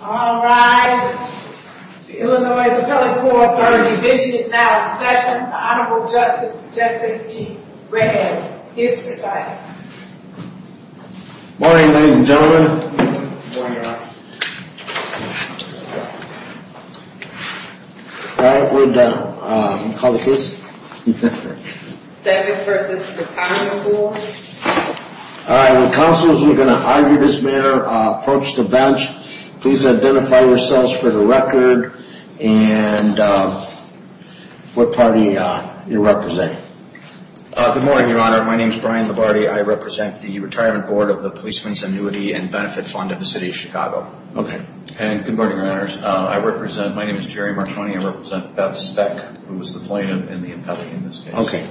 All rise. The Illinois Appellate Corps 3rd Division is now in session. The Honorable Justice Jesse T. Reyes is presiding. Morning, ladies and gentlemen. Morning, Your Honor. All right, we're done. You call the case? Svec v. Retirement Board. All right, when counselors are going to argue this matter, approach the bench. Please identify yourselves for the record and what party you're representing. Good morning, Your Honor. My name is Brian Labarde. I represent the Retirement Board of the Policemen's Annuity & Benefit Fund of the City of Chicago. Okay, and good morning, Your Honors. I represent, my name is Jerry Martoni. I represent Beth Svec, who is the plaintiff and the appellate in this case. Okay.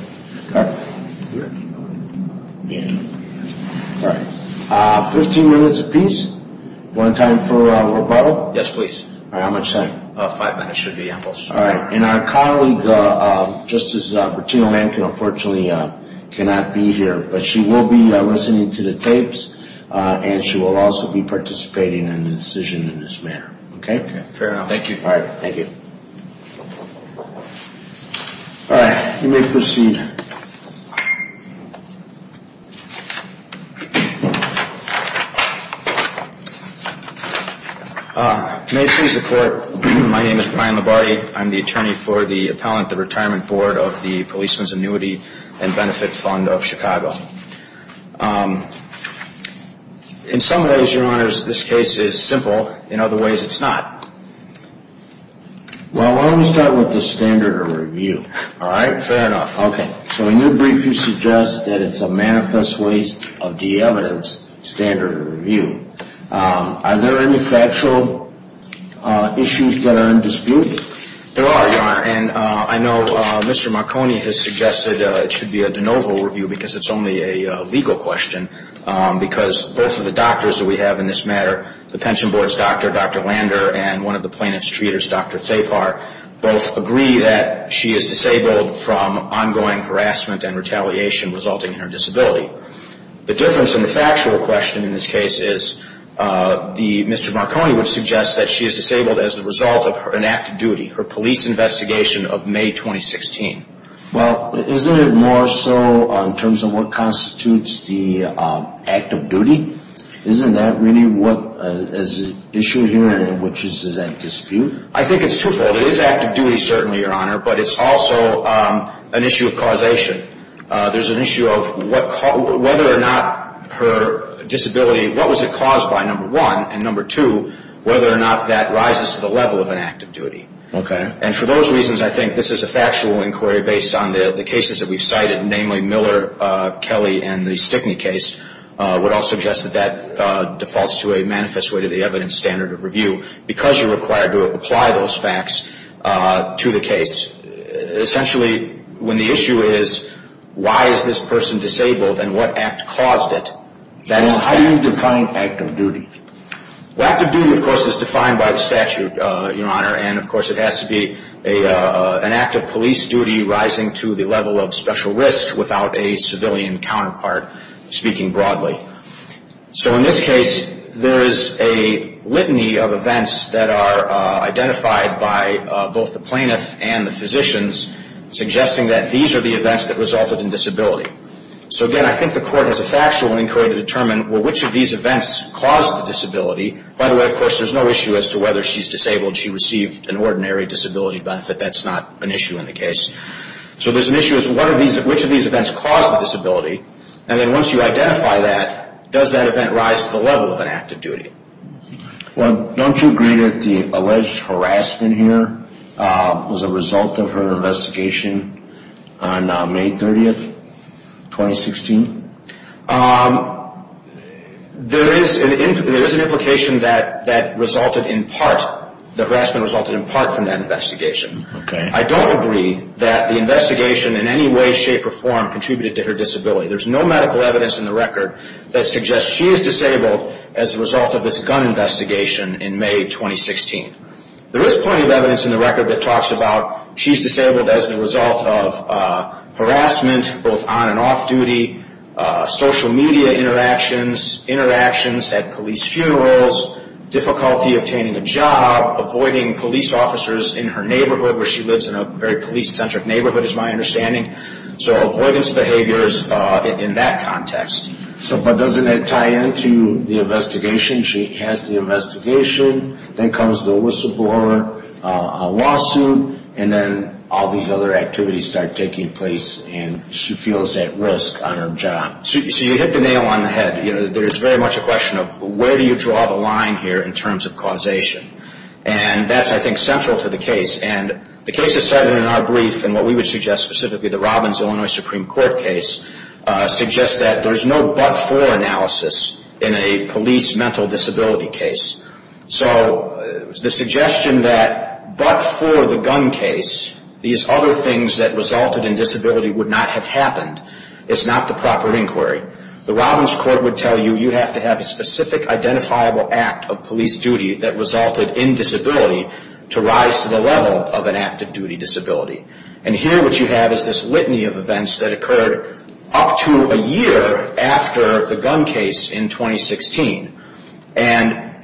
All right. Fifteen minutes apiece. One time for rebuttal? Yes, please. All right, how much time? Five minutes should be ample, sir. All right, and our colleague, Justice Bertino-Mankin, unfortunately cannot be here, but she will be listening to the tapes and she will also be participating in the decision in this matter. Okay? Okay, fair enough. Thank you. All right, thank you. All right, you may proceed. May it please the Court, my name is Brian Labarde. I'm the attorney for the appellant at the Retirement Board of the Policemen's Annuity & Benefit Fund of Chicago. In some ways, Your Honors, this case is simple. In other ways, it's not. Well, why don't we start with the standard of review? All right, fair enough. Okay. So in your brief, you suggest that it's a manifest waste of de-evidence standard of review. Are there any factual issues that are in dispute? There are, Your Honor. And I know Mr. Marconi has suggested it should be a de novo review because it's only a legal question because both of the doctors that we have in this matter, the pension board's doctor, Dr. Lander, and one of the plaintiff's treaters, Dr. Thapar, both agree that she is disabled from ongoing harassment and retaliation resulting in her disability. The difference in the factual question in this case is Mr. Marconi would suggest that she is disabled as a result of her inactive duty, her police investigation of May 2016. Well, isn't it more so in terms of what constitutes the act of duty? Isn't that really what is issued here and which is in dispute? I think it's twofold. It is active duty certainly, Your Honor, but it's also an issue of causation. There's an issue of whether or not her disability, what was it caused by, number one, and number two, whether or not that rises to the level of an act of duty. Okay. And for those reasons, I think this is a factual inquiry based on the cases that we've cited, namely Miller, Kelly, and the Stickney case would all suggest that that defaults to a manifest way to the evidence standard of review because you're required to apply those facts to the case. Essentially, when the issue is why is this person disabled and what act caused it, that's fact. How do you define act of duty? Well, act of duty, of course, is defined by the statute, Your Honor, and, of course, it has to be an act of police duty rising to the level of special risk without a civilian counterpart speaking broadly. So in this case, there is a litany of events that are identified by both the plaintiff and the physicians suggesting that these are the events that resulted in disability. So, again, I think the court has a factual inquiry to determine, well, which of these events caused the disability? By the way, of course, there's no issue as to whether she's disabled, she received an ordinary disability benefit. That's not an issue in the case. So there's an issue as to which of these events caused the disability, and then once you identify that, does that event rise to the level of an act of duty? Well, don't you agree that the alleged harassment here was a result of her investigation on May 30, 2016? There is an implication that resulted in part, the harassment resulted in part from that investigation. Okay. I don't agree that the investigation in any way, shape, or form contributed to her disability. There's no medical evidence in the record that suggests she is disabled as a result of this gun investigation in May 2016. There is plenty of evidence in the record that talks about she's disabled as a result of harassment, both on and off duty, social media interactions, interactions at police funerals, difficulty obtaining a job, avoiding police officers in her neighborhood, where she lives in a very police-centric neighborhood is my understanding. So avoidance behaviors in that context. But doesn't that tie into the investigation? She has the investigation, then comes the whistleblower, a lawsuit, and then all these other activities start taking place and she feels at risk on her job. So you hit the nail on the head. There is very much a question of where do you draw the line here in terms of causation? And that's, I think, central to the case. And the case that's cited in our brief and what we would suggest specifically, the Robbins-Illinois Supreme Court case, suggests that there's no but-for analysis in a police mental disability case. So the suggestion that but-for the gun case, these other things that resulted in disability would not have happened, is not the proper inquiry. The Robbins court would tell you you have to have a specific identifiable act of police duty that resulted in disability to rise to the level of an active-duty disability. And here what you have is this litany of events that occurred up to a year after the gun case in 2016. And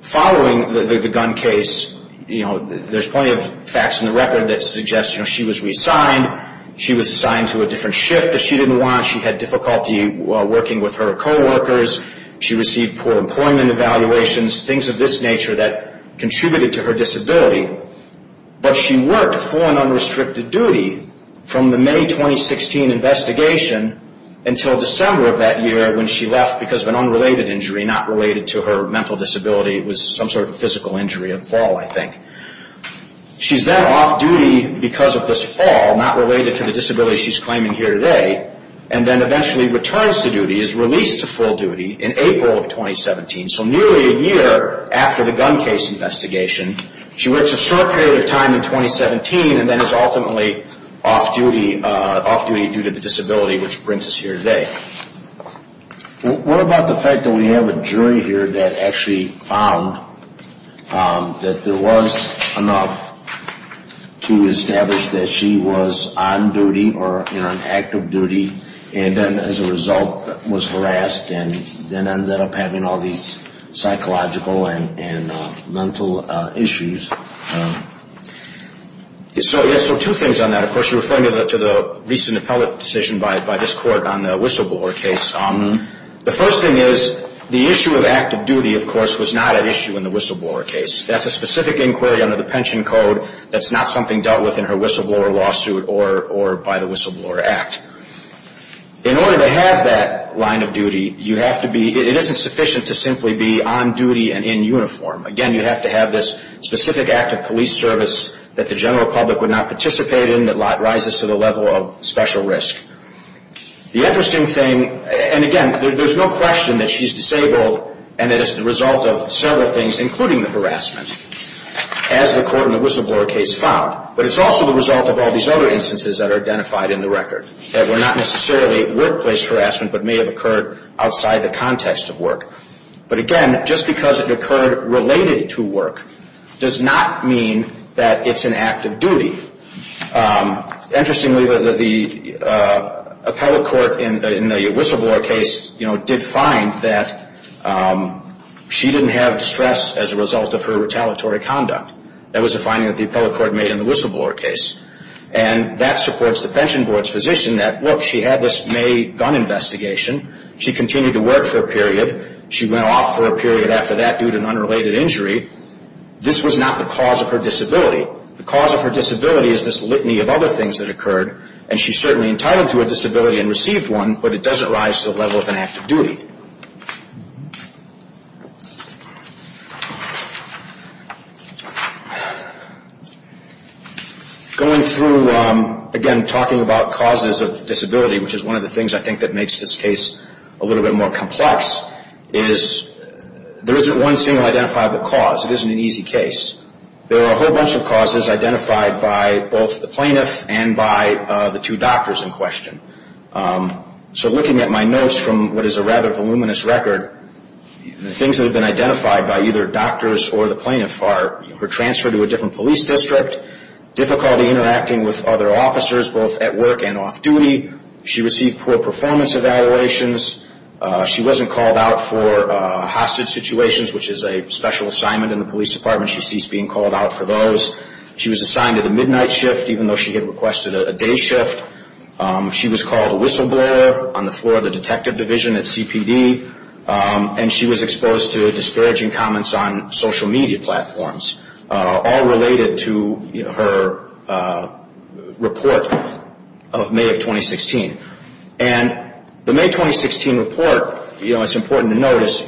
following the gun case, there's plenty of facts in the record that suggest she was reassigned, she was assigned to a different shift that she didn't want, she had difficulty working with her coworkers, she received poor employment evaluations, things of this nature that contributed to her disability. But she worked for an unrestricted duty from the May 2016 investigation until December of that year when she left because of an unrelated injury not related to her mental disability. It was some sort of physical injury, a fall, I think. She's then off-duty because of this fall, not related to the disability she's claiming here today, and then eventually returns to duty, is released to full duty in April of 2017, so nearly a year after the gun case investigation. She works a short period of time in 2017 and then is ultimately off-duty due to the disability, which brings us here today. What about the fact that we have a jury here that actually found that there was enough to establish that she was on duty or on active duty and then as a result was harassed and then ended up having all these psychological and mental issues? So two things on that. Of course, you're referring to the recent appellate decision by this Court on the whistleblower case. The first thing is the issue of active duty, of course, was not at issue in the whistleblower case. That's a specific inquiry under the pension code. That's not something dealt with in her whistleblower lawsuit or by the Whistleblower Act. In order to have that line of duty, you have to be, it isn't sufficient to simply be on duty and in uniform. Again, you have to have this specific act of police service that the general public would not participate in that rises to the level of special risk. The interesting thing, and again, there's no question that she's disabled and that it's the result of several things, including the harassment, as the Court in the whistleblower case found. But it's also the result of all these other instances that are identified in the record that were not necessarily workplace harassment but may have occurred outside the context of work. But again, just because it occurred related to work does not mean that it's an act of duty. Interestingly, the appellate court in the whistleblower case, you know, did find that she didn't have stress as a result of her retaliatory conduct. That was a finding that the appellate court made in the whistleblower case. And that supports the pension board's position that, look, she had this May gun investigation. She continued to work for a period. She went off for a period after that due to an unrelated injury. This was not the cause of her disability. The cause of her disability is this litany of other things that occurred. And she's certainly entitled to a disability and received one, but it doesn't rise to the level of an act of duty. Going through, again, talking about causes of disability, which is one of the things I think that makes this case a little bit more complex, is there isn't one single identifiable cause. It isn't an easy case. There are a whole bunch of causes identified by both the plaintiff and by the two doctors in question. So looking at my notes from what is a rather voluminous record, the things that have been identified by either doctors or the plaintiff are her transfer to a different police district, difficulty interacting with other officers, both at work and off duty. She received poor performance evaluations. She wasn't called out for hostage situations, which is a special assignment in the police department. She ceased being called out for those. She was assigned to the midnight shift, even though she had requested a day shift. She was called a whistleblower on the floor of the detective division at CPD. And she was exposed to disparaging comments on social media platforms, all related to her report of May of 2016. And the May 2016 report, you know, it's important to notice,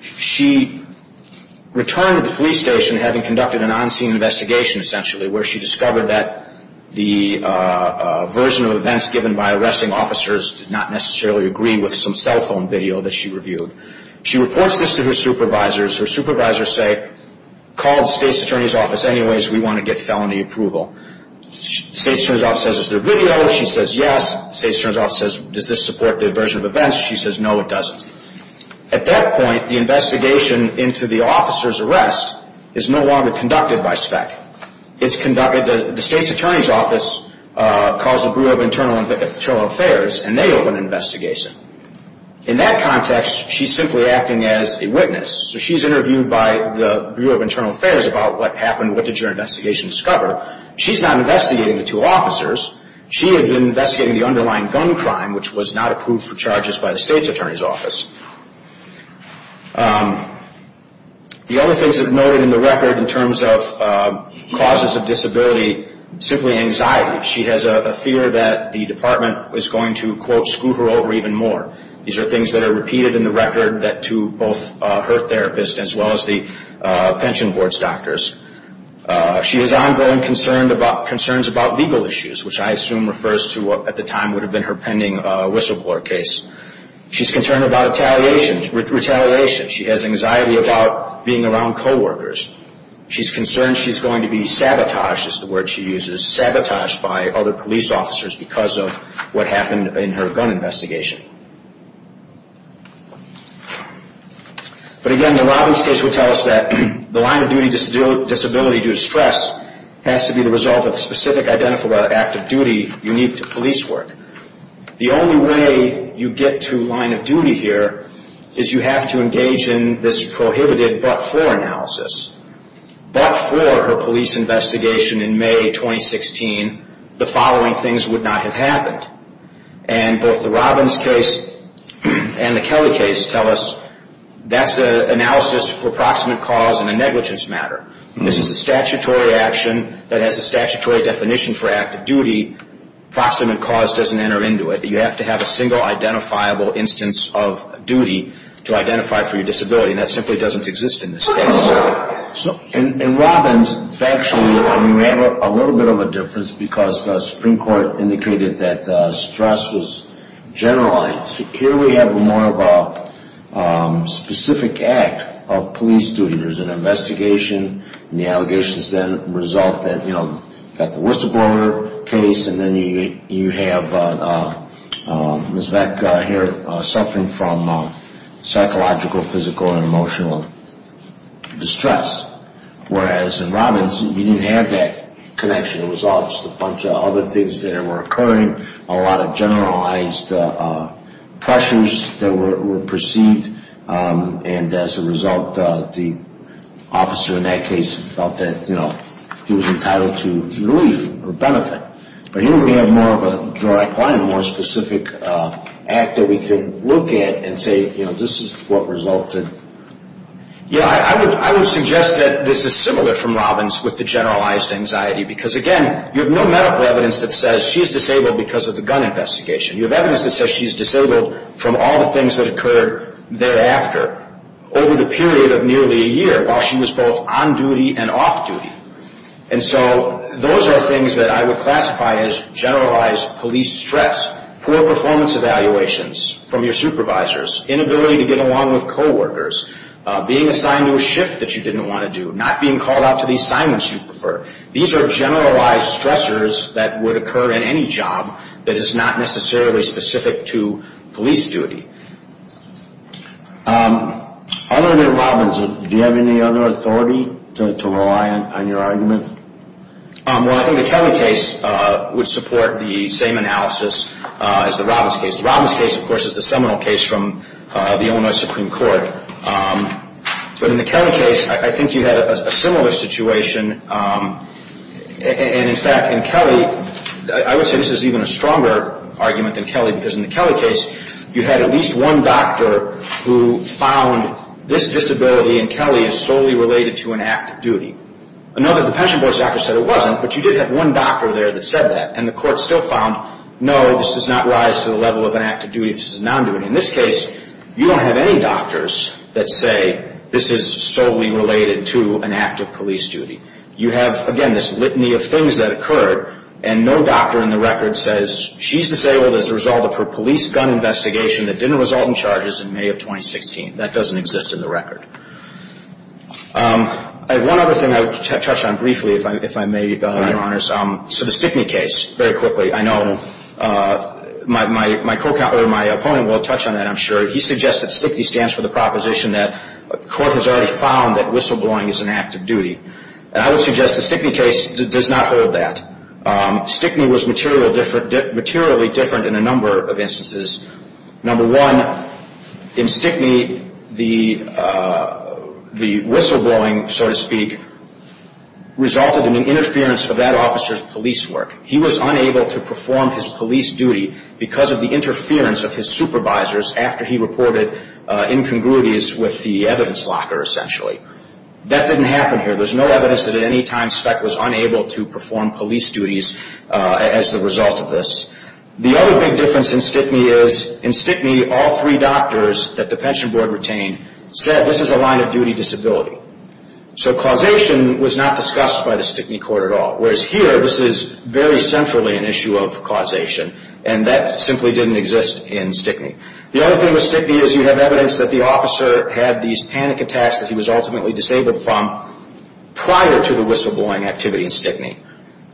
she returned to the police station having conducted an on-scene investigation, essentially, where she discovered that the version of events given by arresting officers did not necessarily agree with some cell phone video that she reviewed. She reports this to her supervisors. Her supervisors say, call the state's attorney's office anyways, we want to get felony approval. The state's attorney's office says, is there video? She says, yes. The state's attorney's office says, does this support the version of events? She says, no, it doesn't. At that point, the investigation into the officer's arrest is no longer conducted by SPEC. It's conducted, the state's attorney's office calls the Bureau of Internal Affairs, and they open an investigation. In that context, she's simply acting as a witness. So she's interviewed by the Bureau of Internal Affairs about what happened, what did your investigation discover. She's not investigating the two officers. She had been investigating the underlying gun crime, which was not approved for charges by the state's attorney's office. The other things that are noted in the record in terms of causes of disability, simply anxiety. She has a fear that the department is going to, quote, screw her over even more. These are things that are repeated in the record to both her therapist as well as the pension board's doctors. She is ongoing concerns about legal issues, which I assume refers to what at the time would have been her pending whistleblower case. She's concerned about retaliation. She has anxiety about being around coworkers. She's concerned she's going to be sabotaged, is the word she uses, sabotaged by other police officers because of what happened in her gun investigation. But again, the Robbins case would tell us that the line of duty disability due to stress has to be the result of a specific act of duty unique to police work. The only way you get to line of duty here is you have to engage in this prohibited but-for analysis. But for her police investigation in May 2016, the following things would not have happened. And both the Robbins case and the Kelly case tell us that's an analysis for proximate cause in a negligence matter. This is a statutory action that has a statutory definition for active duty. Proximate cause doesn't enter into it. You have to have a single identifiable instance of duty to identify for your disability. And that simply doesn't exist in this case. And Robbins, factually, we have a little bit of a difference because the Supreme Court indicated that stress was generalized. Here we have more of a specific act of police duty. There's an investigation, and the allegations then result that, you know, you've got the whistleblower case, and then you have Ms. Beck here suffering from psychological, physical, and emotional distress. Whereas in Robbins, you didn't have that connection. It was just a bunch of other things that were occurring, a lot of generalized pressures that were perceived. And as a result, the officer in that case felt that, you know, he was entitled to relief or benefit. But here we have more of a more specific act that we can look at and say, you know, this is what resulted. Yeah, I would suggest that this is similar from Robbins with the generalized anxiety. Because, again, you have no medical evidence that says she's disabled because of the gun investigation. You have evidence that says she's disabled from all the things that occurred thereafter, over the period of nearly a year while she was both on duty and off duty. And so those are things that I would classify as generalized police stress, poor performance evaluations from your supervisors, inability to get along with coworkers, being assigned to a shift that you didn't want to do, not being called out to the assignments you prefer. These are generalized stressors that would occur in any job that is not necessarily specific to police duty. Under Robbins, do you have any other authority to rely on your argument? Well, I think the Kelly case would support the same analysis as the Robbins case. The Robbins case, of course, is the seminal case from the Illinois Supreme Court. But in the Kelly case, I think you had a similar situation. And, in fact, in Kelly, I would say this is even a stronger argument than Kelly because in the Kelly case, you had at least one doctor who found this disability in Kelly is solely related to an act of duty. Another, the pension board's doctor said it wasn't, but you did have one doctor there that said that. And the court still found, no, this does not rise to the level of an act of duty, this is a non-duty. In this case, you don't have any doctors that say this is solely related to an act of police duty. You have, again, this litany of things that occurred, and no doctor in the record says she's disabled as a result of her police gun investigation that didn't result in charges in May of 2016. That doesn't exist in the record. One other thing I would touch on briefly, if I may, Your Honors. So the Stickney case, very quickly. I know my opponent will touch on that, I'm sure. He suggests that Stickney stands for the proposition that the court has already found that whistleblowing is an act of duty. And I would suggest the Stickney case does not hold that. Stickney was materially different in a number of instances. Number one, in Stickney, the whistleblowing, so to speak, resulted in an interference of that officer's police work. He was unable to perform his police duty because of the interference of his supervisors after he reported incongruities with the evidence locker, essentially. That didn't happen here. There's no evidence that at any time Speck was unable to perform police duties as a result of this. The other big difference in Stickney is, in Stickney, all three doctors that the pension board retained said, this is a line of duty disability. So causation was not discussed by the Stickney court at all. Whereas here, this is very centrally an issue of causation, and that simply didn't exist in Stickney. The other thing with Stickney is you have evidence that the officer had these panic attacks that he was ultimately disabled from prior to the whistleblowing activity in Stickney.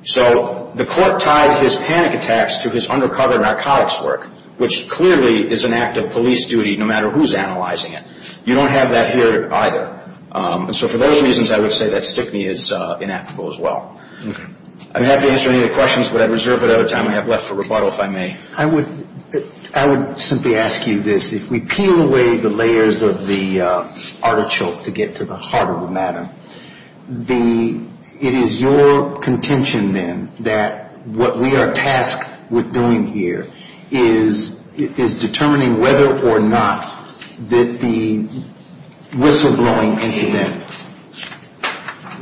So the court tied his panic attacks to his undercover narcotics work, which clearly is an act of police duty no matter who's analyzing it. You don't have that here either. So for those reasons, I would say that Stickney is inactable as well. I'm happy to answer any of the questions, but I reserve the time I have left for rebuttal if I may. I would simply ask you this. If we peel away the layers of the artichoke to get to the heart of the matter, it is your contention then that what we are tasked with doing here is determining whether or not that the whistleblowing incident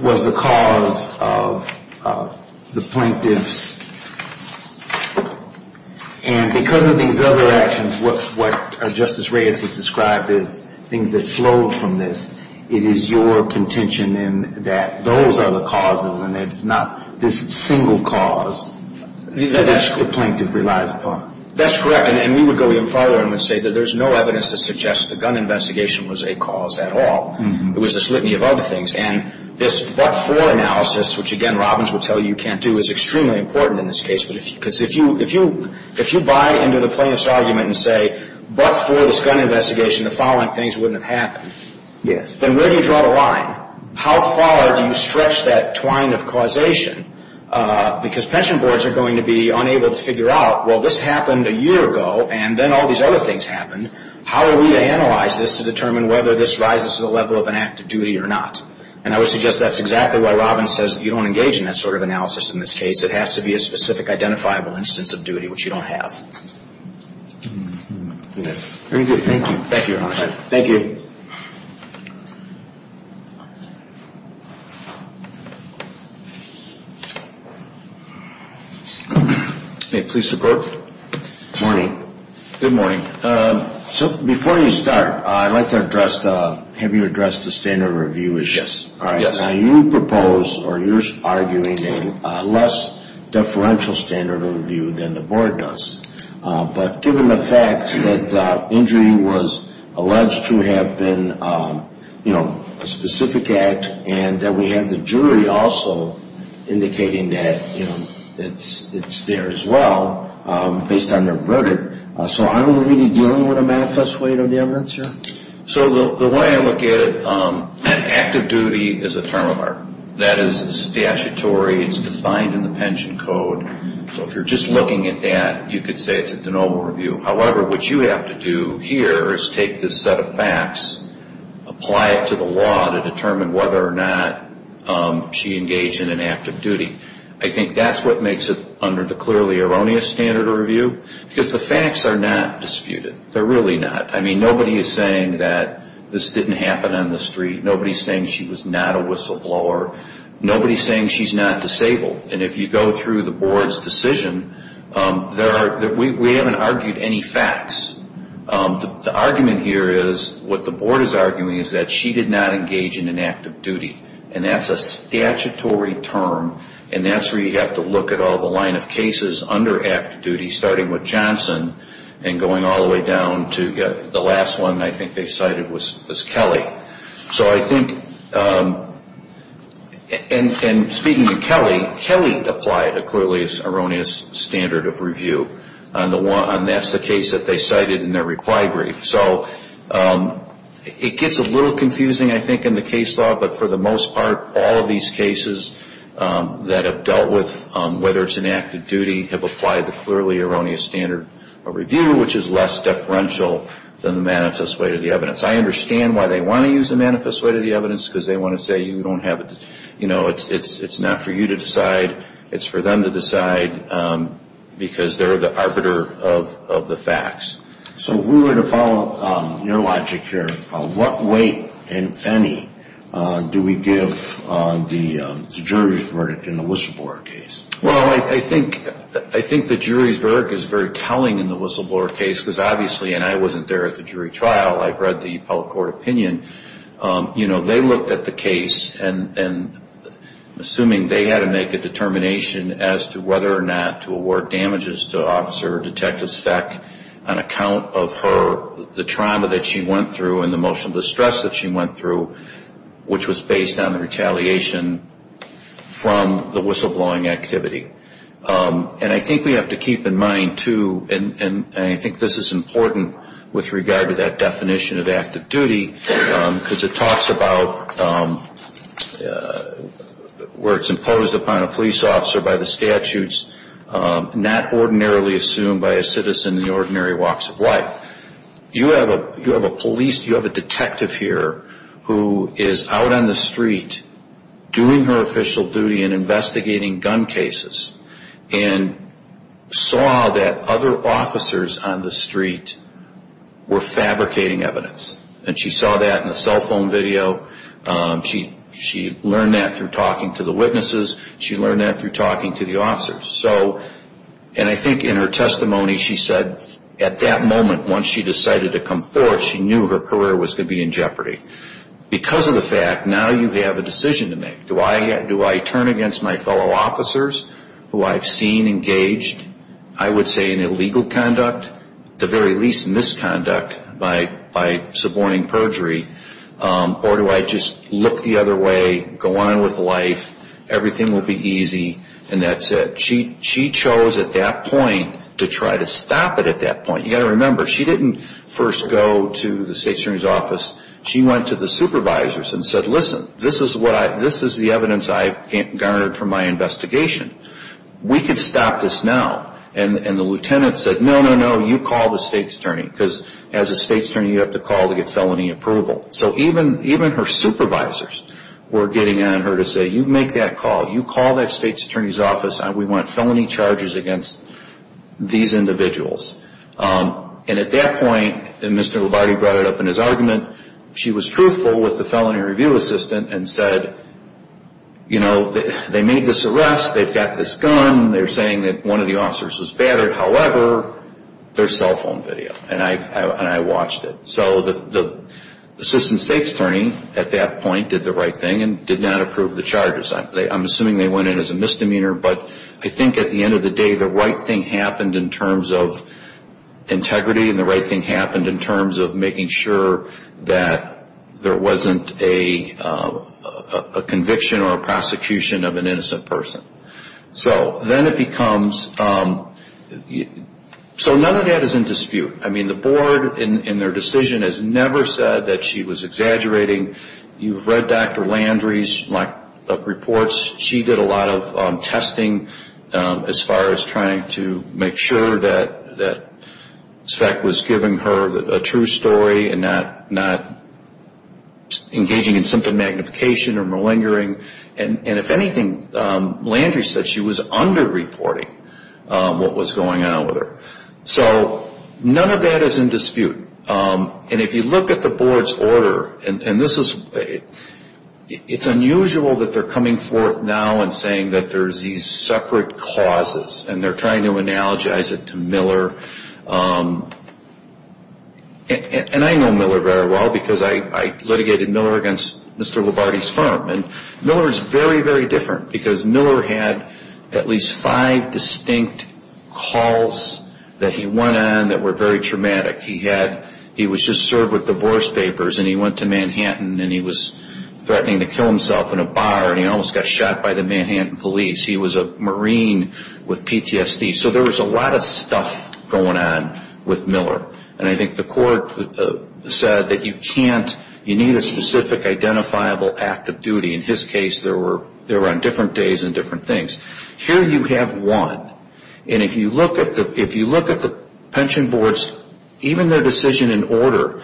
was the cause of the plaintiff's. And because of these other actions, what Justice Reyes has described as things that flowed from this, it is your contention then that those are the causes and it's not this single cause that the plaintiff relies upon. That's correct. And we would go even further and would say that there's no evidence to suggest the gun investigation was a cause at all. It was a slitany of other things. And this but-for analysis, which, again, Robbins will tell you you can't do, is extremely important in this case. Because if you buy into the plaintiff's argument and say but-for this gun investigation, the following things wouldn't have happened. Yes. Then where do you draw the line? How far do you stretch that twine of causation? Because pension boards are going to be unable to figure out, well, this happened a year ago and then all these other things happened. How are we to analyze this to determine whether this rises to the level of an act of duty or not? And I would suggest that's exactly why Robbins says you don't engage in that sort of analysis in this case. It has to be a specific identifiable instance of duty, which you don't have. Very good. Thank you. Thank you, Your Honor. Thank you. May it please the Court? Good morning. Good morning. So before you start, I'd like to address, have you addressed the standard of review issue? Yes. All right. Now, you propose or you're arguing a less deferential standard of review than the board does. But given the fact that injury was alleged to have been, you know, a specific act and that we have the jury also indicating that, you know, it's there as well based on their verdict, so are we really dealing with a manifest weight of the evidence here? So the way I look at it, an act of duty is a term of art. That is statutory. It's defined in the pension code. So if you're just looking at that, you could say it's a de novo review. However, what you have to do here is take this set of facts, apply it to the law to determine whether or not she engaged in an act of duty. I think that's what makes it under the clearly erroneous standard of review, because the facts are not disputed. They're really not. I mean, nobody is saying that this didn't happen on the street. Nobody is saying she was not a whistleblower. Nobody is saying she's not disabled. And if you go through the board's decision, we haven't argued any facts. The argument here is what the board is arguing is that she did not engage in an act of duty, and that's a statutory term, and that's where you have to look at all the line of cases under act of duty starting with Johnson and going all the way down to the last one I think they cited was Kelly. So I think, and speaking of Kelly, Kelly applied a clearly erroneous standard of review, and that's the case that they cited in their reply brief. So it gets a little confusing, I think, in the case law, but for the most part all of these cases that have dealt with whether it's an act of duty have applied the clearly erroneous standard of review, which is less differential than the manifest way to the evidence. I understand why they want to use the manifest way to the evidence, because they want to say, you know, it's not for you to decide. It's for them to decide because they're the arbiter of the facts. So if we were to follow your logic here, what weight and penny do we give the jury's verdict in the Whistleblower case? Well, I think the jury's verdict is very telling in the Whistleblower case, because obviously, and I wasn't there at the jury trial. I've read the public court opinion. You know, they looked at the case, and assuming they had to make a determination as to whether or not to award damages to Officer Detective Speck on account of her, the trauma that she went through and the emotional distress that she went through, which was based on the retaliation from the whistleblowing activity. And I think we have to keep in mind, too, and I think this is important with regard to that definition of active duty, because it talks about where it's imposed upon a police officer by the statutes, not ordinarily assumed by a citizen in the ordinary walks of life. You have a police, you have a detective here who is out on the street doing her official duty and investigating gun cases and saw that other officers on the street were fabricating evidence. And she saw that in the cell phone video. She learned that through talking to the witnesses. She learned that through talking to the officers. And I think in her testimony, she said at that moment, once she decided to come forward, she knew her career was going to be in jeopardy. Because of the fact, now you have a decision to make. Do I turn against my fellow officers who I've seen engaged, I would say in illegal conduct, at the very least misconduct by suborning perjury, or do I just look the other way, go on with life, everything will be easy, and that's it. She chose at that point to try to stop it at that point. You've got to remember, she didn't first go to the state attorney's office. She went to the supervisors and said, listen, this is the evidence I've garnered from my investigation. We can stop this now. And the lieutenant said, no, no, no, you call the state's attorney. Because as a state's attorney, you have to call to get felony approval. So even her supervisors were getting on her to say, you make that call. You call that state's attorney's office. We want felony charges against these individuals. And at that point, and Mr. Labarge brought it up in his argument, she was truthful with the felony review assistant and said, you know, they made this arrest. They've got this gun. They're saying that one of the officers was battered. However, there's cell phone video, and I watched it. So the assistant state's attorney at that point did the right thing and did not approve the charges. I'm assuming they went in as a misdemeanor, but I think at the end of the day, the right thing happened in terms of integrity, and the right thing happened in terms of making sure that there wasn't a conviction or a prosecution of an innocent person. So then it becomes, so none of that is in dispute. I mean, the board in their decision has never said that she was exaggerating. You've read Dr. Landry's reports. She did a lot of testing as far as trying to make sure that SVEC was giving her a true story and not engaging in symptom magnification or malingering. And if anything, Landry said she was underreporting what was going on with her. So none of that is in dispute. And if you look at the board's order, and this is, it's unusual that they're coming forth now and saying that there's these separate causes, and they're trying to analogize it to Miller. And I know Miller very well because I litigated Miller against Mr. Lovardi's firm. And Miller's very, very different because Miller had at least five distinct calls that he went on that were very traumatic. He was just served with divorce papers, and he went to Manhattan, and he was threatening to kill himself in a bar, and he almost got shot by the Manhattan police. He was a Marine with PTSD. So there was a lot of stuff going on with Miller. And I think the court said that you can't, you need a specific identifiable act of duty. In his case, they were on different days and different things. Here you have one. And if you look at the pension boards, even their decision in order,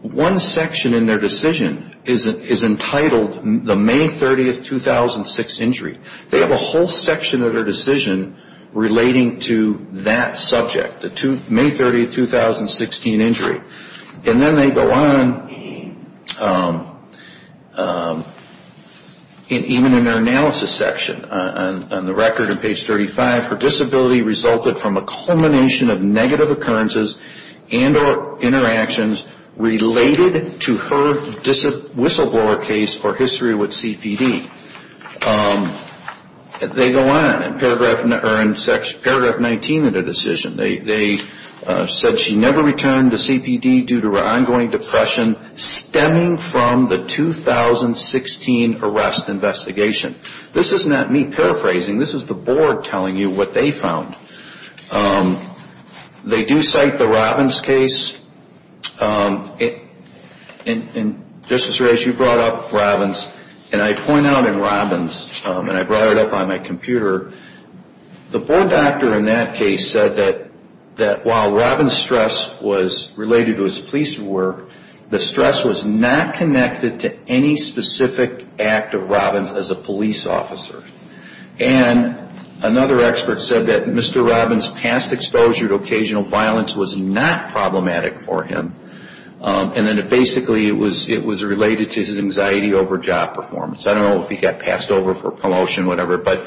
one section in their decision is entitled the May 30, 2006 injury. They have a whole section of their decision relating to that subject, the May 30, 2016 injury. And then they go on, even in their analysis section, on the record on page 35, her disability resulted from a culmination of negative occurrences and or interactions related to her whistleblower case for history with CPD. They go on in paragraph 19 of their decision. They said she never returned to CPD due to her ongoing depression, stemming from the 2016 arrest investigation. This is not me paraphrasing. This is the board telling you what they found. They do cite the Robbins case. And, Justice Reyes, you brought up Robbins. And I point out in Robbins, and I brought it up on my computer, the board doctor in that case said that while Robbins' stress was related to his police work, the stress was not connected to any specific act of Robbins as a police officer. And another expert said that Mr. Robbins' past exposure to occasional violence was not problematic for him. And then basically it was related to his anxiety over job performance. I don't know if he got passed over for promotion or whatever, but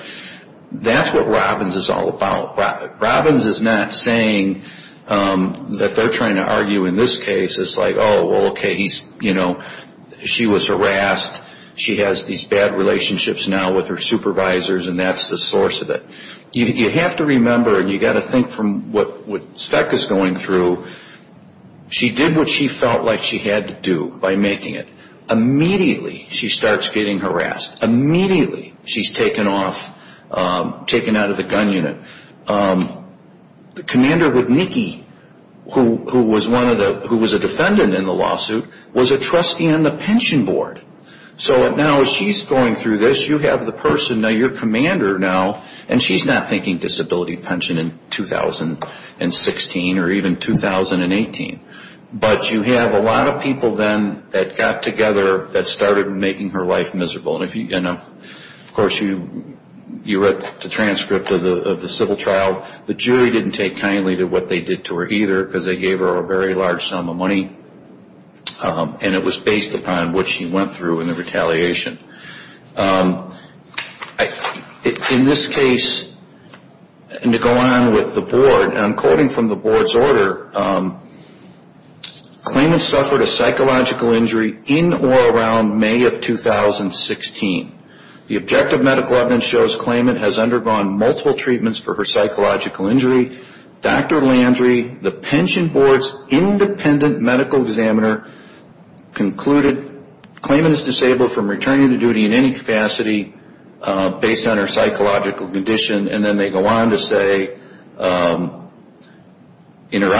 that's what Robbins is all about. Robbins is not saying that they're trying to argue in this case. It's like, oh, well, okay, he's, you know, she was harassed. She has these bad relationships now with her supervisors, and that's the source of it. You have to remember, and you've got to think from what Speck is going through, she did what she felt like she had to do by making it. Immediately she starts getting harassed. Immediately she's taken off, taken out of the gun unit. The commander with Nikki, who was a defendant in the lawsuit, was a trustee on the pension board. So now as she's going through this, you have the person, now you're commander now, and she's not thinking disability pension in 2016 or even 2018. But you have a lot of people then that got together that started making her life miserable. And, of course, you read the transcript of the civil trial. The jury didn't take kindly to what they did to her either because they gave her a very large sum of money, and it was based upon what she went through in the retaliation. In this case, and to go on with the board, and I'm quoting from the board's order, claimant suffered a psychological injury in or around May of 2016. The objective medical evidence shows claimant has undergone multiple treatments for her psychological injury. Dr. Landry, the pension board's independent medical examiner, concluded claimant is disabled from returning to duty in any capacity based on her psychological condition. And then they go on to say, in her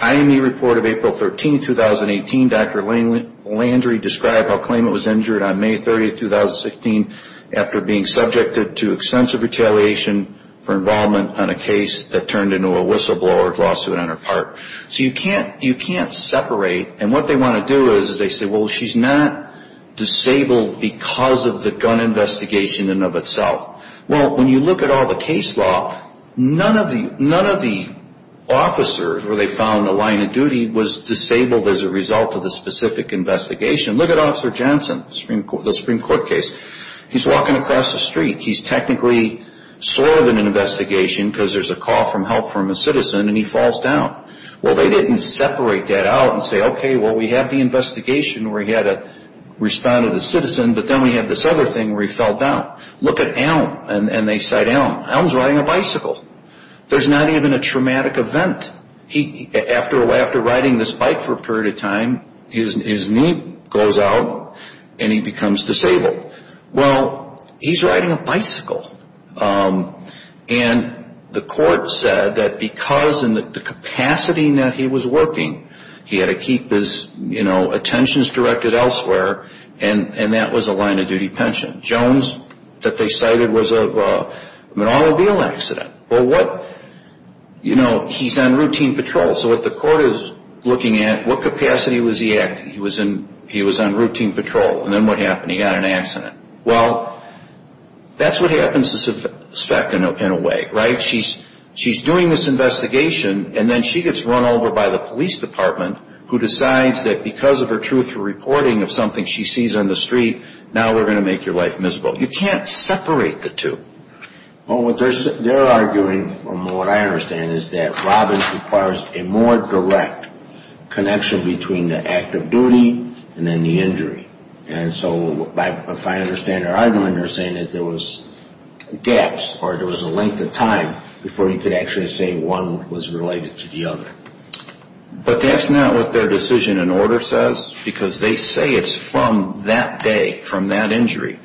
IME report of April 13, 2018, Dr. Landry described how claimant was injured on May 30, 2016, after being subjected to extensive retaliation for involvement on a case that turned into a whistleblower lawsuit on her part. So you can't separate, and what they want to do is they say, well, she's not disabled because of the gun investigation in and of itself. Well, when you look at all the case law, none of the officers where they found a line of duty was disabled as a result of the specific investigation. Look at Officer Jensen, the Supreme Court case. He's walking across the street. He's technically sort of in an investigation because there's a call for help from a citizen, and he falls down. Well, they didn't separate that out and say, okay, well, we have the investigation where he had to respond to the citizen, but then we have this other thing where he fell down. Look at Elm, and they cite Elm. Elm's riding a bicycle. There's not even a traumatic event. After riding this bike for a period of time, his knee goes out, and he becomes disabled. Well, he's riding a bicycle. And the court said that because in the capacity in that he was working, he had to keep his attentions directed elsewhere, and that was a line of duty pension. Jones that they cited was an automobile accident. Well, what, you know, he's on routine patrol. So what the court is looking at, what capacity was he acting? He was on routine patrol, and then what happened? He got in an accident. Well, that's what happens to Svek in a way, right? She's doing this investigation, and then she gets run over by the police department, who decides that because of her truthful reporting of something she sees on the street, now we're going to make your life miserable. You can't separate the two. Well, what they're arguing, from what I understand, is that Robbins requires a more direct connection between the act of duty and then the injury. And so if I understand or I don't understand it, there was gaps or there was a length of time before you could actually say one was related to the other. But that's not what their decision in order says, because they say it's from that day, from that injury,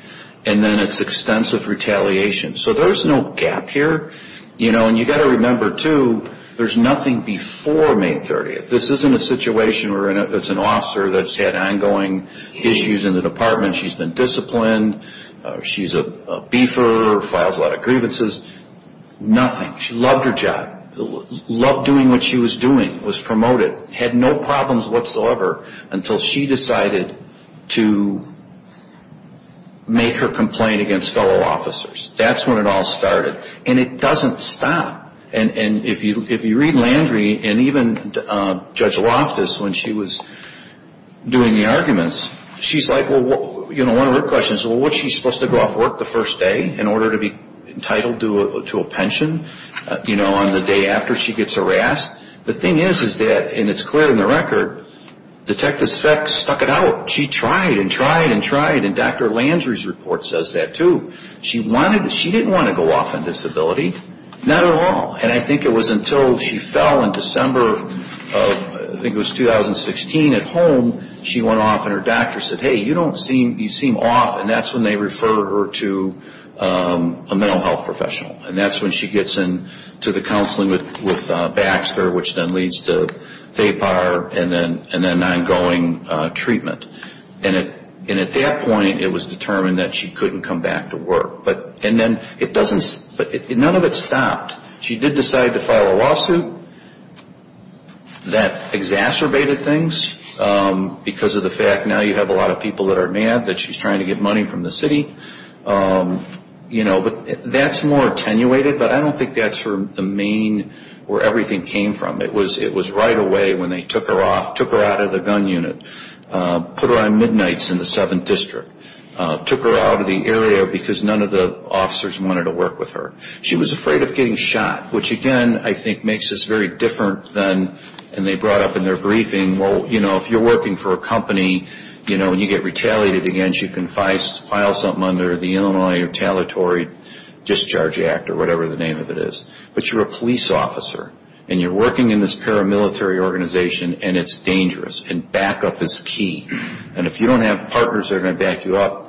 and then it's extensive retaliation. So there's no gap here. You know, and you've got to remember, too, there's nothing before May 30th. This isn't a situation where it's an officer that's had ongoing issues in the department. She's been disciplined. She's a beefer, files a lot of grievances. Nothing. She loved her job, loved doing what she was doing, was promoted, had no problems whatsoever until she decided to make her complaint against fellow officers. That's when it all started. And it doesn't stop. And if you read Landry and even Judge Loftus, when she was doing the arguments, she's like, well, you know, one of her questions, well, was she supposed to go off work the first day in order to be entitled to a pension, you know, on the day after she gets harassed? The thing is, is that, and it's clear in the record, Detective Speck stuck it out. She tried and tried and tried. And Dr. Landry's report says that, too. She wanted, she didn't want to go off on disability. Not at all. And I think it was until she fell in December of, I think it was 2016, at home, she went off and her doctor said, hey, you don't seem, you seem off. And that's when they referred her to a mental health professional. And that's when she gets into the counseling with Baxter, which then leads to VAPAR, and then an ongoing treatment. And at that point, it was determined that she couldn't come back to work. And then it doesn't, none of it stopped. She did decide to file a lawsuit that exacerbated things because of the fact now you have a lot of people that are mad that she's trying to get money from the city. But that's more attenuated, but I don't think that's the main, where everything came from. It was right away when they took her off, took her out of the gun unit, put her on midnights in the 7th District, took her out of the area because none of the officers wanted to work with her. She was afraid of getting shot, which, again, I think makes this very different than, and they brought up in their briefing, well, you know, if you're working for a company, you know, when you get retaliated against, you can file something under the Illinois Retaliatory Discharge Act or whatever the name of it is. But you're a police officer, and you're working in this paramilitary organization, and it's dangerous, and backup is key. And if you don't have partners that are going to back you up,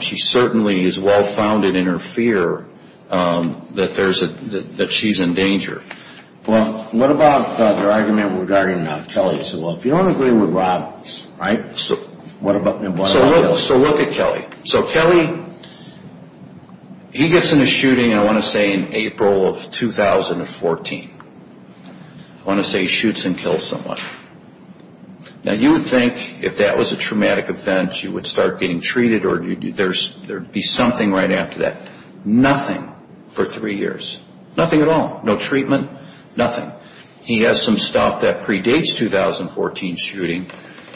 she certainly is well-founded in her fear that she's in danger. Well, what about their argument regarding Kelly? They said, well, if you don't agree with Robbins, right? So look at Kelly. So Kelly, he gets in a shooting, I want to say, in April of 2014. I want to say he shoots and kills someone. Now, you would think if that was a traumatic event, you would start getting treated, or there would be something right after that. Nothing for three years. Nothing at all. No treatment. Nothing. He has some stuff that predates the 2014 shooting,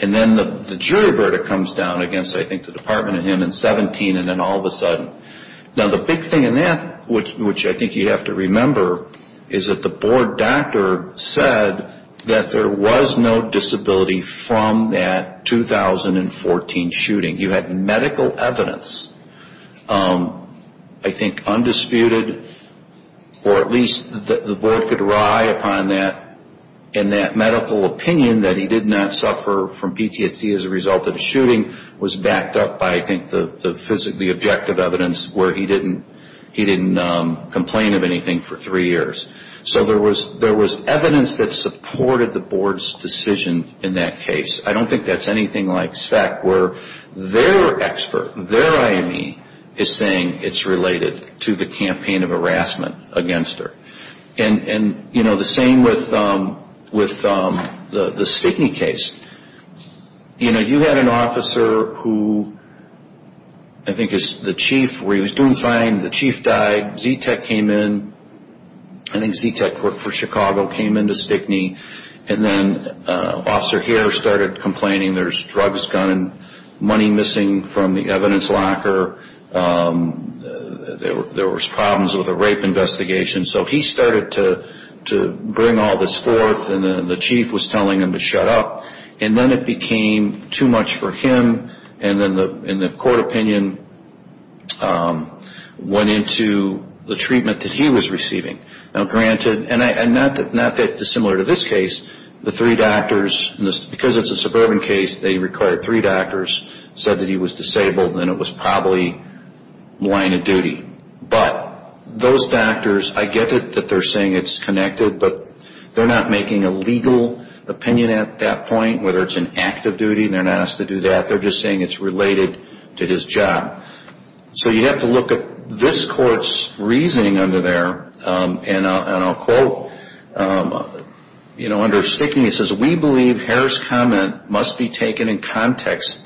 and then the jury verdict comes down against, I think, the Department of Human Services in 2017, and then all of a sudden. Now, the big thing in that, which I think you have to remember, is that the board doctor said that there was no disability from that 2014 shooting. You had medical evidence, I think, undisputed, or at least the board could rye upon that, and that medical opinion that he did not suffer from PTSD as a result of the shooting was backed up by, I think, the objective evidence where he didn't complain of anything for three years. So there was evidence that supported the board's decision in that case. I don't think that's anything like SVEC, where their expert, their IME, is saying it's related to the campaign of harassment against her. And, you know, the same with the Stickney case. You know, you had an officer who, I think, is the chief, where he was doing fine, the chief died, Z-Tech came in, I think Z-Tech worked for Chicago, came into Stickney, and then Officer Hare started complaining there's drugs gone and money missing from the evidence locker. There was problems with a rape investigation. So he started to bring all this forth, and the chief was telling him to shut up, and then it became too much for him, and then the court opinion went into the treatment that he was receiving. Now, granted, and not that dissimilar to this case, the three doctors, because it's a suburban case, they required three doctors, said that he was disabled and it was probably line of duty. But those doctors, I get it that they're saying it's connected, but they're not making a legal opinion at that point, whether it's an act of duty, they're not asked to do that, they're just saying it's related to his job. So you have to look at this court's reasoning under there, and I'll quote under Stickney, it says, we believe Hare's comment must be taken in context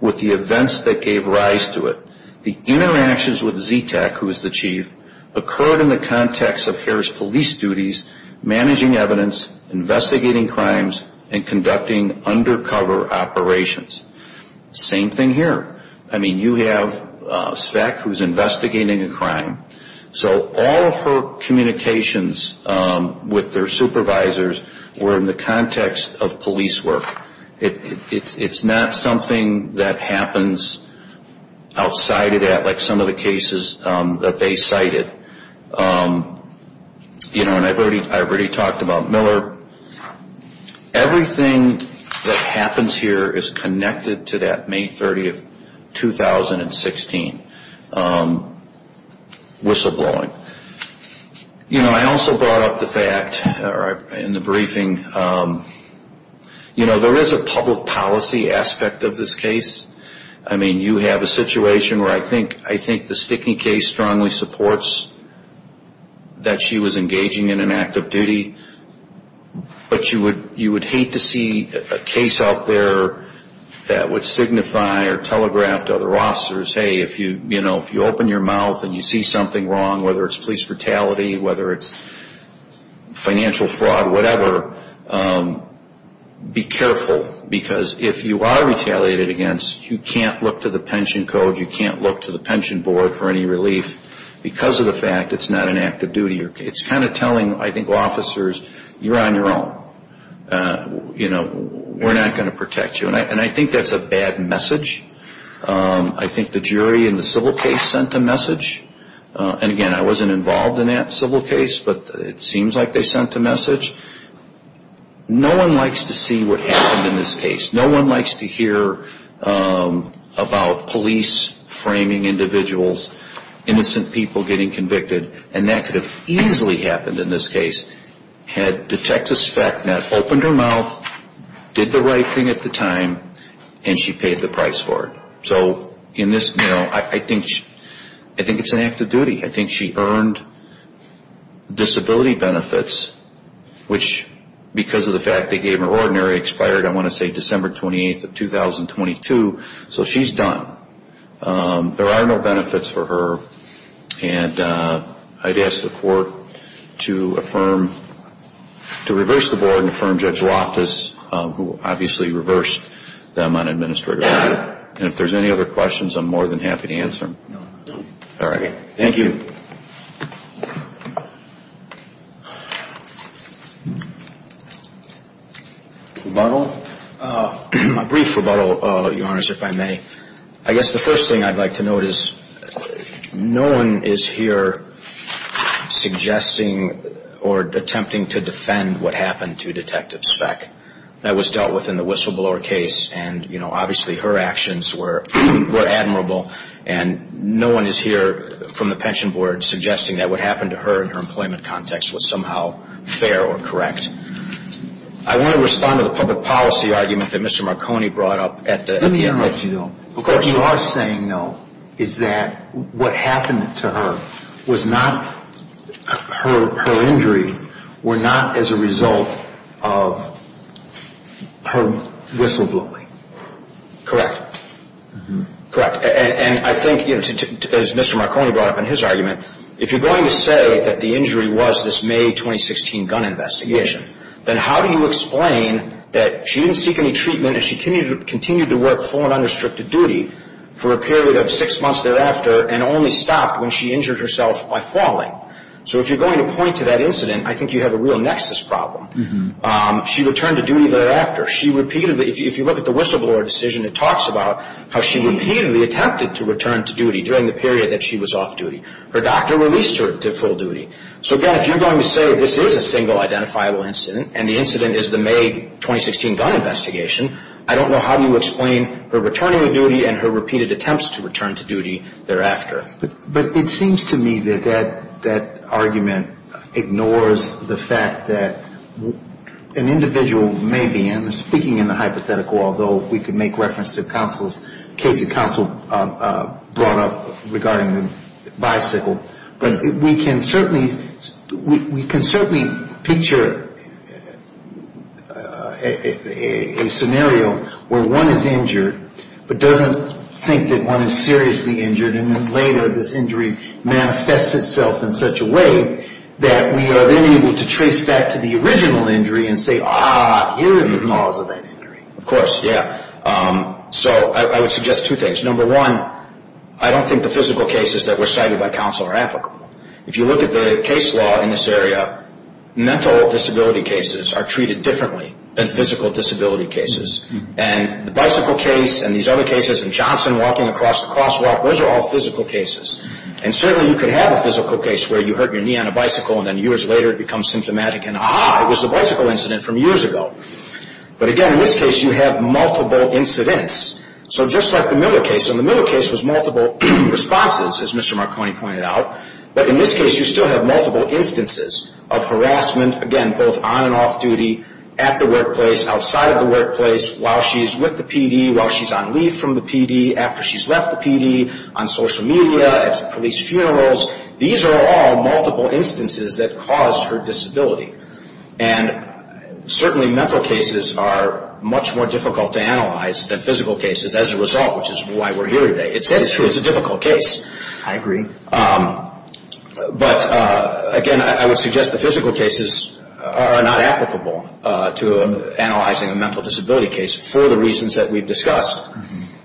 with the events that gave rise to it. The interactions with Z-Tech, who was the chief, occurred in the context of Hare's police duties, managing evidence, investigating crimes, and conducting undercover operations. Same thing here. I mean, you have Z-Tech, who's investigating a crime, so all of her communications with their supervisors were in the context of police work. It's not something that happens outside of that, like some of the cases that they cited. You know, and I've already talked about Miller. Everything that happens here is connected to that May 30, 2016 whistleblowing. You know, I also brought up the fact, in the briefing, you know, there is a public policy aspect of this case. I mean, you have a situation where I think the Stickney case strongly supports that she was engaging in an act of duty. But you would hate to see a case out there that would signify or telegraph to other officers, hey, if you open your mouth and you see something wrong, whether it's police brutality, whether it's financial fraud, whatever, be careful. Because if you are retaliated against, you can't look to the pension code, you can't look to the pension board for any relief, because of the fact it's not an act of duty. It's kind of telling, I think, officers, you're on your own. You know, we're not going to protect you. And I think that's a bad message. I think the jury in the civil case sent a message. And again, I wasn't involved in that civil case, but it seems like they sent a message. No one likes to see what happened in this case. No one likes to hear about police framing individuals, innocent people getting convicted. And that could have easily happened in this case, had detectives opened her mouth, did the right thing at the time, and she paid the price for it. So in this, you know, I think it's an act of duty. I think she earned disability benefits, which, because of the fact they gave her ordinary, expired, I want to say, December 28th of 2022, so she's done. There are no benefits for her. And I'd ask the court to affirm, to reverse the board and affirm Judge Loftus, who obviously reversed them on administrative matters. And if there's any other questions, I'm more than happy to answer them. Thank you. A brief rebuttal, Your Honor, if I may. I guess the first thing I'd like to note is no one is here suggesting or attempting to defend what happened to Detective Speck. That was dealt with in the whistleblower case. And, you know, obviously her actions were admirable. And no one is here from the pension board suggesting that what happened to her in her employment context was somehow fair or correct. I want to respond to the public policy argument that Mr. Marconi brought up at the end. Let me interrupt you, though. What you are saying, though, is that what happened to her was not her injury were not as a result of her whistleblowing. Correct. Correct. And I think, as Mr. Marconi brought up in his argument, if you're going to say that the injury was this May 2016 gun investigation, then how do you explain that she didn't seek any treatment and she continued to work full and unrestricted duty for a period of six months thereafter and only stopped when she injured herself by falling? So if you're going to point to that incident, I think you have a real nexus problem. She returned to duty thereafter. She repeatedly, if you look at the whistleblower decision, it talks about how she repeatedly attempted to return to duty during the period that she was off duty. Her doctor released her to full duty. So, again, if you're going to say this is a single identifiable incident and the incident is the May 2016 gun investigation, I don't know how you explain her returning to duty and her repeated attempts to return to duty thereafter. But it seems to me that that argument ignores the fact that an individual may be, and I'm speaking in the hypothetical, although we could make reference to counsel's case of counsel brought up regarding the bicycle, but we can certainly picture a scenario where one is injured but doesn't think that one is seriously injured and then later this injury manifests itself in such a way that we are then able to trace back to the original injury and say, ah, here is the cause of that injury. Of course, yeah. So I would suggest two things. Number one, I don't think the physical cases that were cited by counsel are applicable. If you look at the case law in this area, mental disability cases are treated differently than physical disability cases. And the bicycle case and these other cases and Johnson walking across the crosswalk, those are all physical cases. And certainly you can have a physical case where you hurt your knee on a bicycle and then years later it becomes symptomatic and, aha, it was a bicycle incident from years ago. But again, in this case you have multiple incidents. So just like the Miller case, and the Miller case was multiple responses, as Mr. Marconi pointed out, but in this case you still have multiple instances of harassment, again, both on and off duty, at the workplace, outside of the workplace, while she's with the PD, while she's on leave from the PD, after she's left the PD, on social media, at police funerals. These are all multiple instances that caused her disability. And certainly mental cases are much more difficult to analyze than physical cases as a result, which is why we're here today. It's true. I agree. But again, I would suggest the physical cases are not applicable to analyzing a mental disability case for the reasons that we've discussed.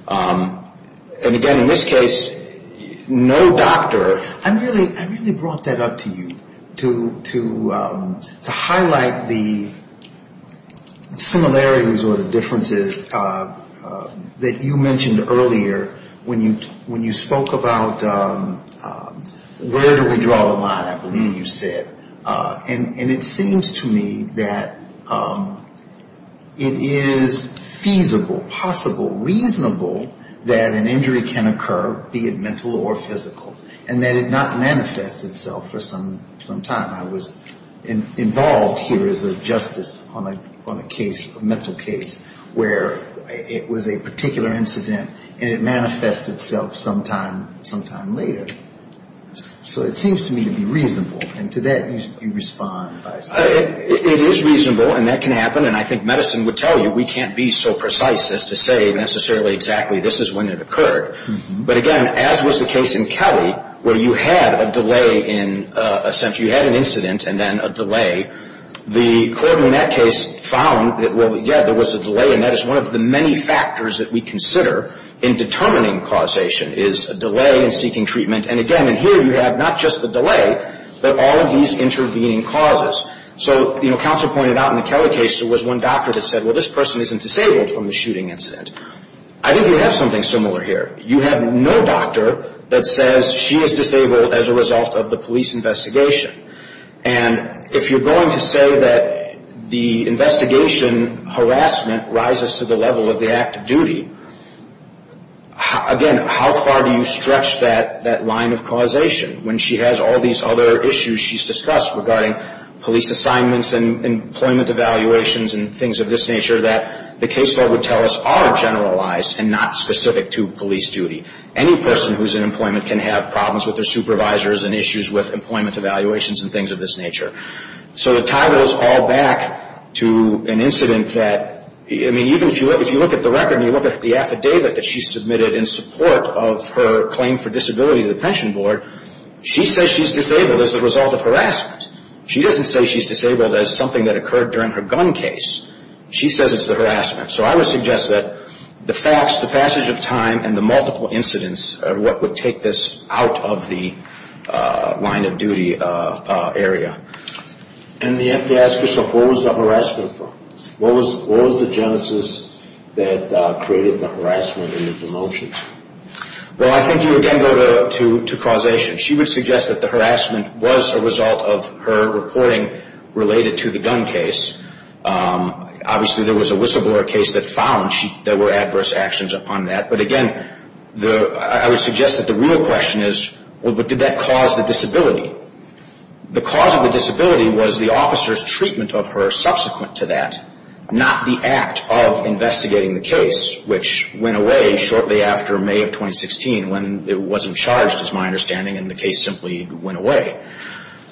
And again, in this case, no doctor. I really brought that up to you to highlight the similarities or the differences that you mentioned earlier when you spoke about where do we draw the line, I believe you said. And it seems to me that it is feasible, possible, reasonable, that an injury can occur, be it mental or physical, and that it not manifests itself for some time. I was involved here as a justice on a case, a mental case, where it was a particular incident, and it manifests itself sometimes, sometimes later. So it seems to me to be reasonable. And to that, you respond. It is reasonable, and that can happen. And I think medicine would tell you we can't be so precise as to say necessarily exactly this is when it occurred. But again, as was the case in Kelly, where you had a delay in a sense. You had an incident and then a delay. The court in that case found that, well, yeah, there was a delay, and that is one of the many factors that we consider in determining causation, is a delay in seeking treatment. And again, in here, you have not just the delay, but all of these intervening causes. So, you know, counsel pointed out in the Kelly case, there was one doctor that said, well, this person isn't disabled from the shooting incident. I think you have something similar here. You have no doctor that says she is disabled as a result of the police investigation. And if you're going to say that the investigation harassment rises to the level of the act of duty, again, how far do you stretch that line of causation when she has all these other issues she's discussed regarding police assignments and employment evaluations and things of this nature that the case law would tell us are generalized and not specific to police duty. Any person who is in employment can have problems with their supervisors and issues with employment evaluations and things of this nature. So to tie those all back to an incident that, I mean, even if you look at the record and you look at the affidavit that she submitted in support of her claim for disability to the pension board, she says she's disabled as a result of harassment. She doesn't say she's disabled as something that occurred during her gun case. She says it's the harassment. So I would suggest that the facts, the passage of time, and the multiple incidents of what would take this out of the line of duty area. And you have to ask yourself, where was the harassment from? What was the genesis that created the harassment and the promotion? Well, I think you again go to causation. She would suggest that the harassment was a result of her reporting related to the gun case. Obviously, there was a whistleblower case that found there were adverse actions upon that. But again, I would suggest that the real question is, well, did that cause the disability? The cause of the disability was the officer's treatment of her subsequent to that, not the act of investigating the case, which went away shortly after May of 2016 when it wasn't charged, is my understanding, and the case simply went away.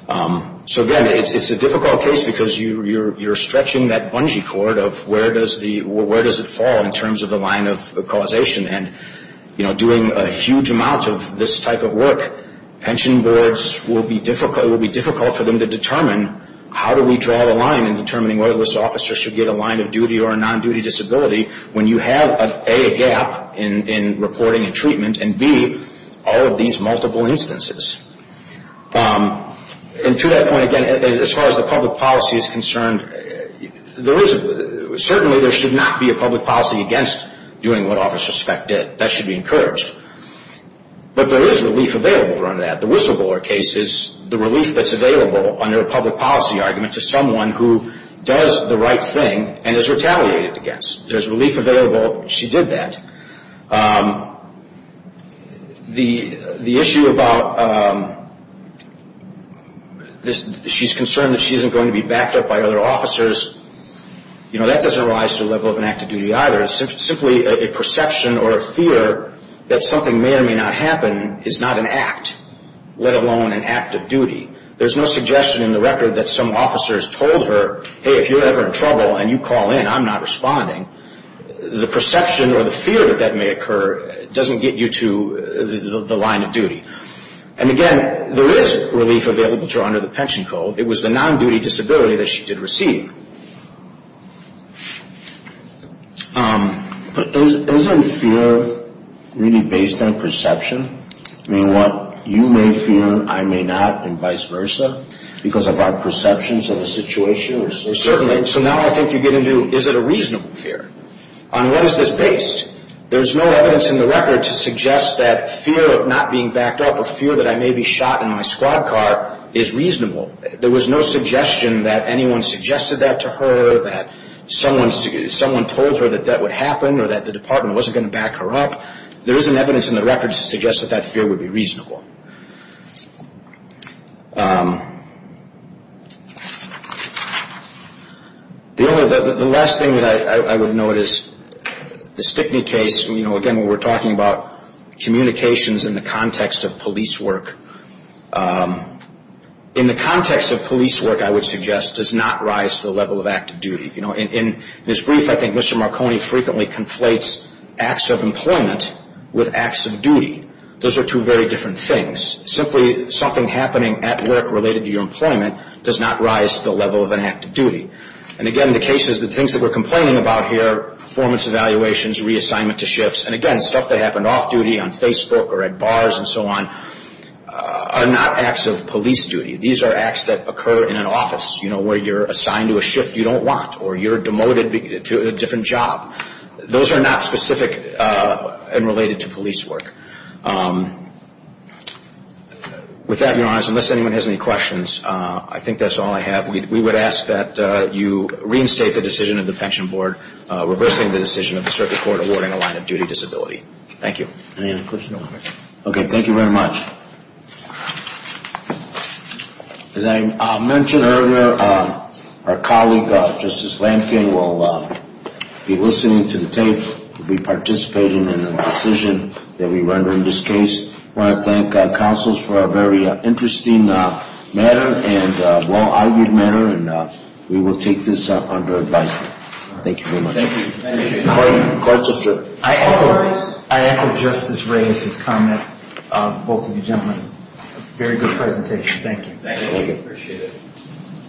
So again, it's a difficult case because you're stretching that bungee cord of where does it fall in terms of the line of causation. And, you know, doing a huge amount of this type of work, pension boards will be difficult for them to determine how do we draw the line in determining whether this officer should get a line of duty or a non-duty disability when you have A, a gap in reporting and treatment, and B, all of these multiple instances. And to that point, again, as far as the public policy is concerned, certainly there should not be a public policy against doing what officers expect it. That should be encouraged. But there is relief available around that. The whistleblower case is the relief that's available under a public policy argument to someone who does the right thing and is retaliated against. There's relief available. She did that. The issue about she's concerned that she isn't going to be backed up by other officers, you know, that doesn't rise to the level of an act of duty either. It's simply a perception or a fear that something may or may not happen is not an act, let alone an act of duty. There's no suggestion in the record that some officers told her, hey, if you're ever in trouble and you call in, I'm not responding. The perception or the fear that that may occur doesn't get you to the line of duty. And again, there is relief available to her under the pension code. It was the non-duty disability that she did receive. But isn't fear really based on perception? You know what, you may fear I may not and vice versa because of our perceptions of the situation? Certainly. So now I think you get into is it a reasonable fear? On what is this based? There's no evidence in the record to suggest that fear of not being backed up or fear that I may be shot in my squad car is reasonable. There was no suggestion that anyone suggested that to her, that someone told her that that would happen or that the department wasn't going to back her up. There isn't evidence in the record to suggest that that fear would be reasonable. The last thing that I would note is the Stickney case. Again, we're talking about communications in the context of police work. In the context of police work, I would suggest does not rise to the level of active duty. In this brief, I think Mr. Marconi frequently conflates acts of employment with acts of duty. Those are two very different things. Simply something happening at work related to your employment does not rise to the level of an act of duty. And again, the cases, the things that we're complaining about here, performance evaluations, reassignment to shifts, and again, stuff that happened off duty on Facebook or at bars and so on, are not acts of police duty. These are acts that occur in an office, you know, where you're assigned to a shift you don't want, or you're demoted to a different job. Those are not specific and related to police work. With that, Your Honors, unless anyone has any questions, I think that's all I have. We would ask that you reinstate the decision of the Pension Board reversing the decision of the Circuit Court awarding a line of duty disability. Thank you. Okay, thank you very much. As I mentioned earlier, our colleague, Justice Lankin, will be listening to the tape, will be participating in the decision that we render in this case. I want to thank counsels for a very interesting matter and a well-argued matter, and we will take this under advisement. Thank you very much. I echo Justice Reyes's comments, both of you gentlemen. Very good presentation. Thank you.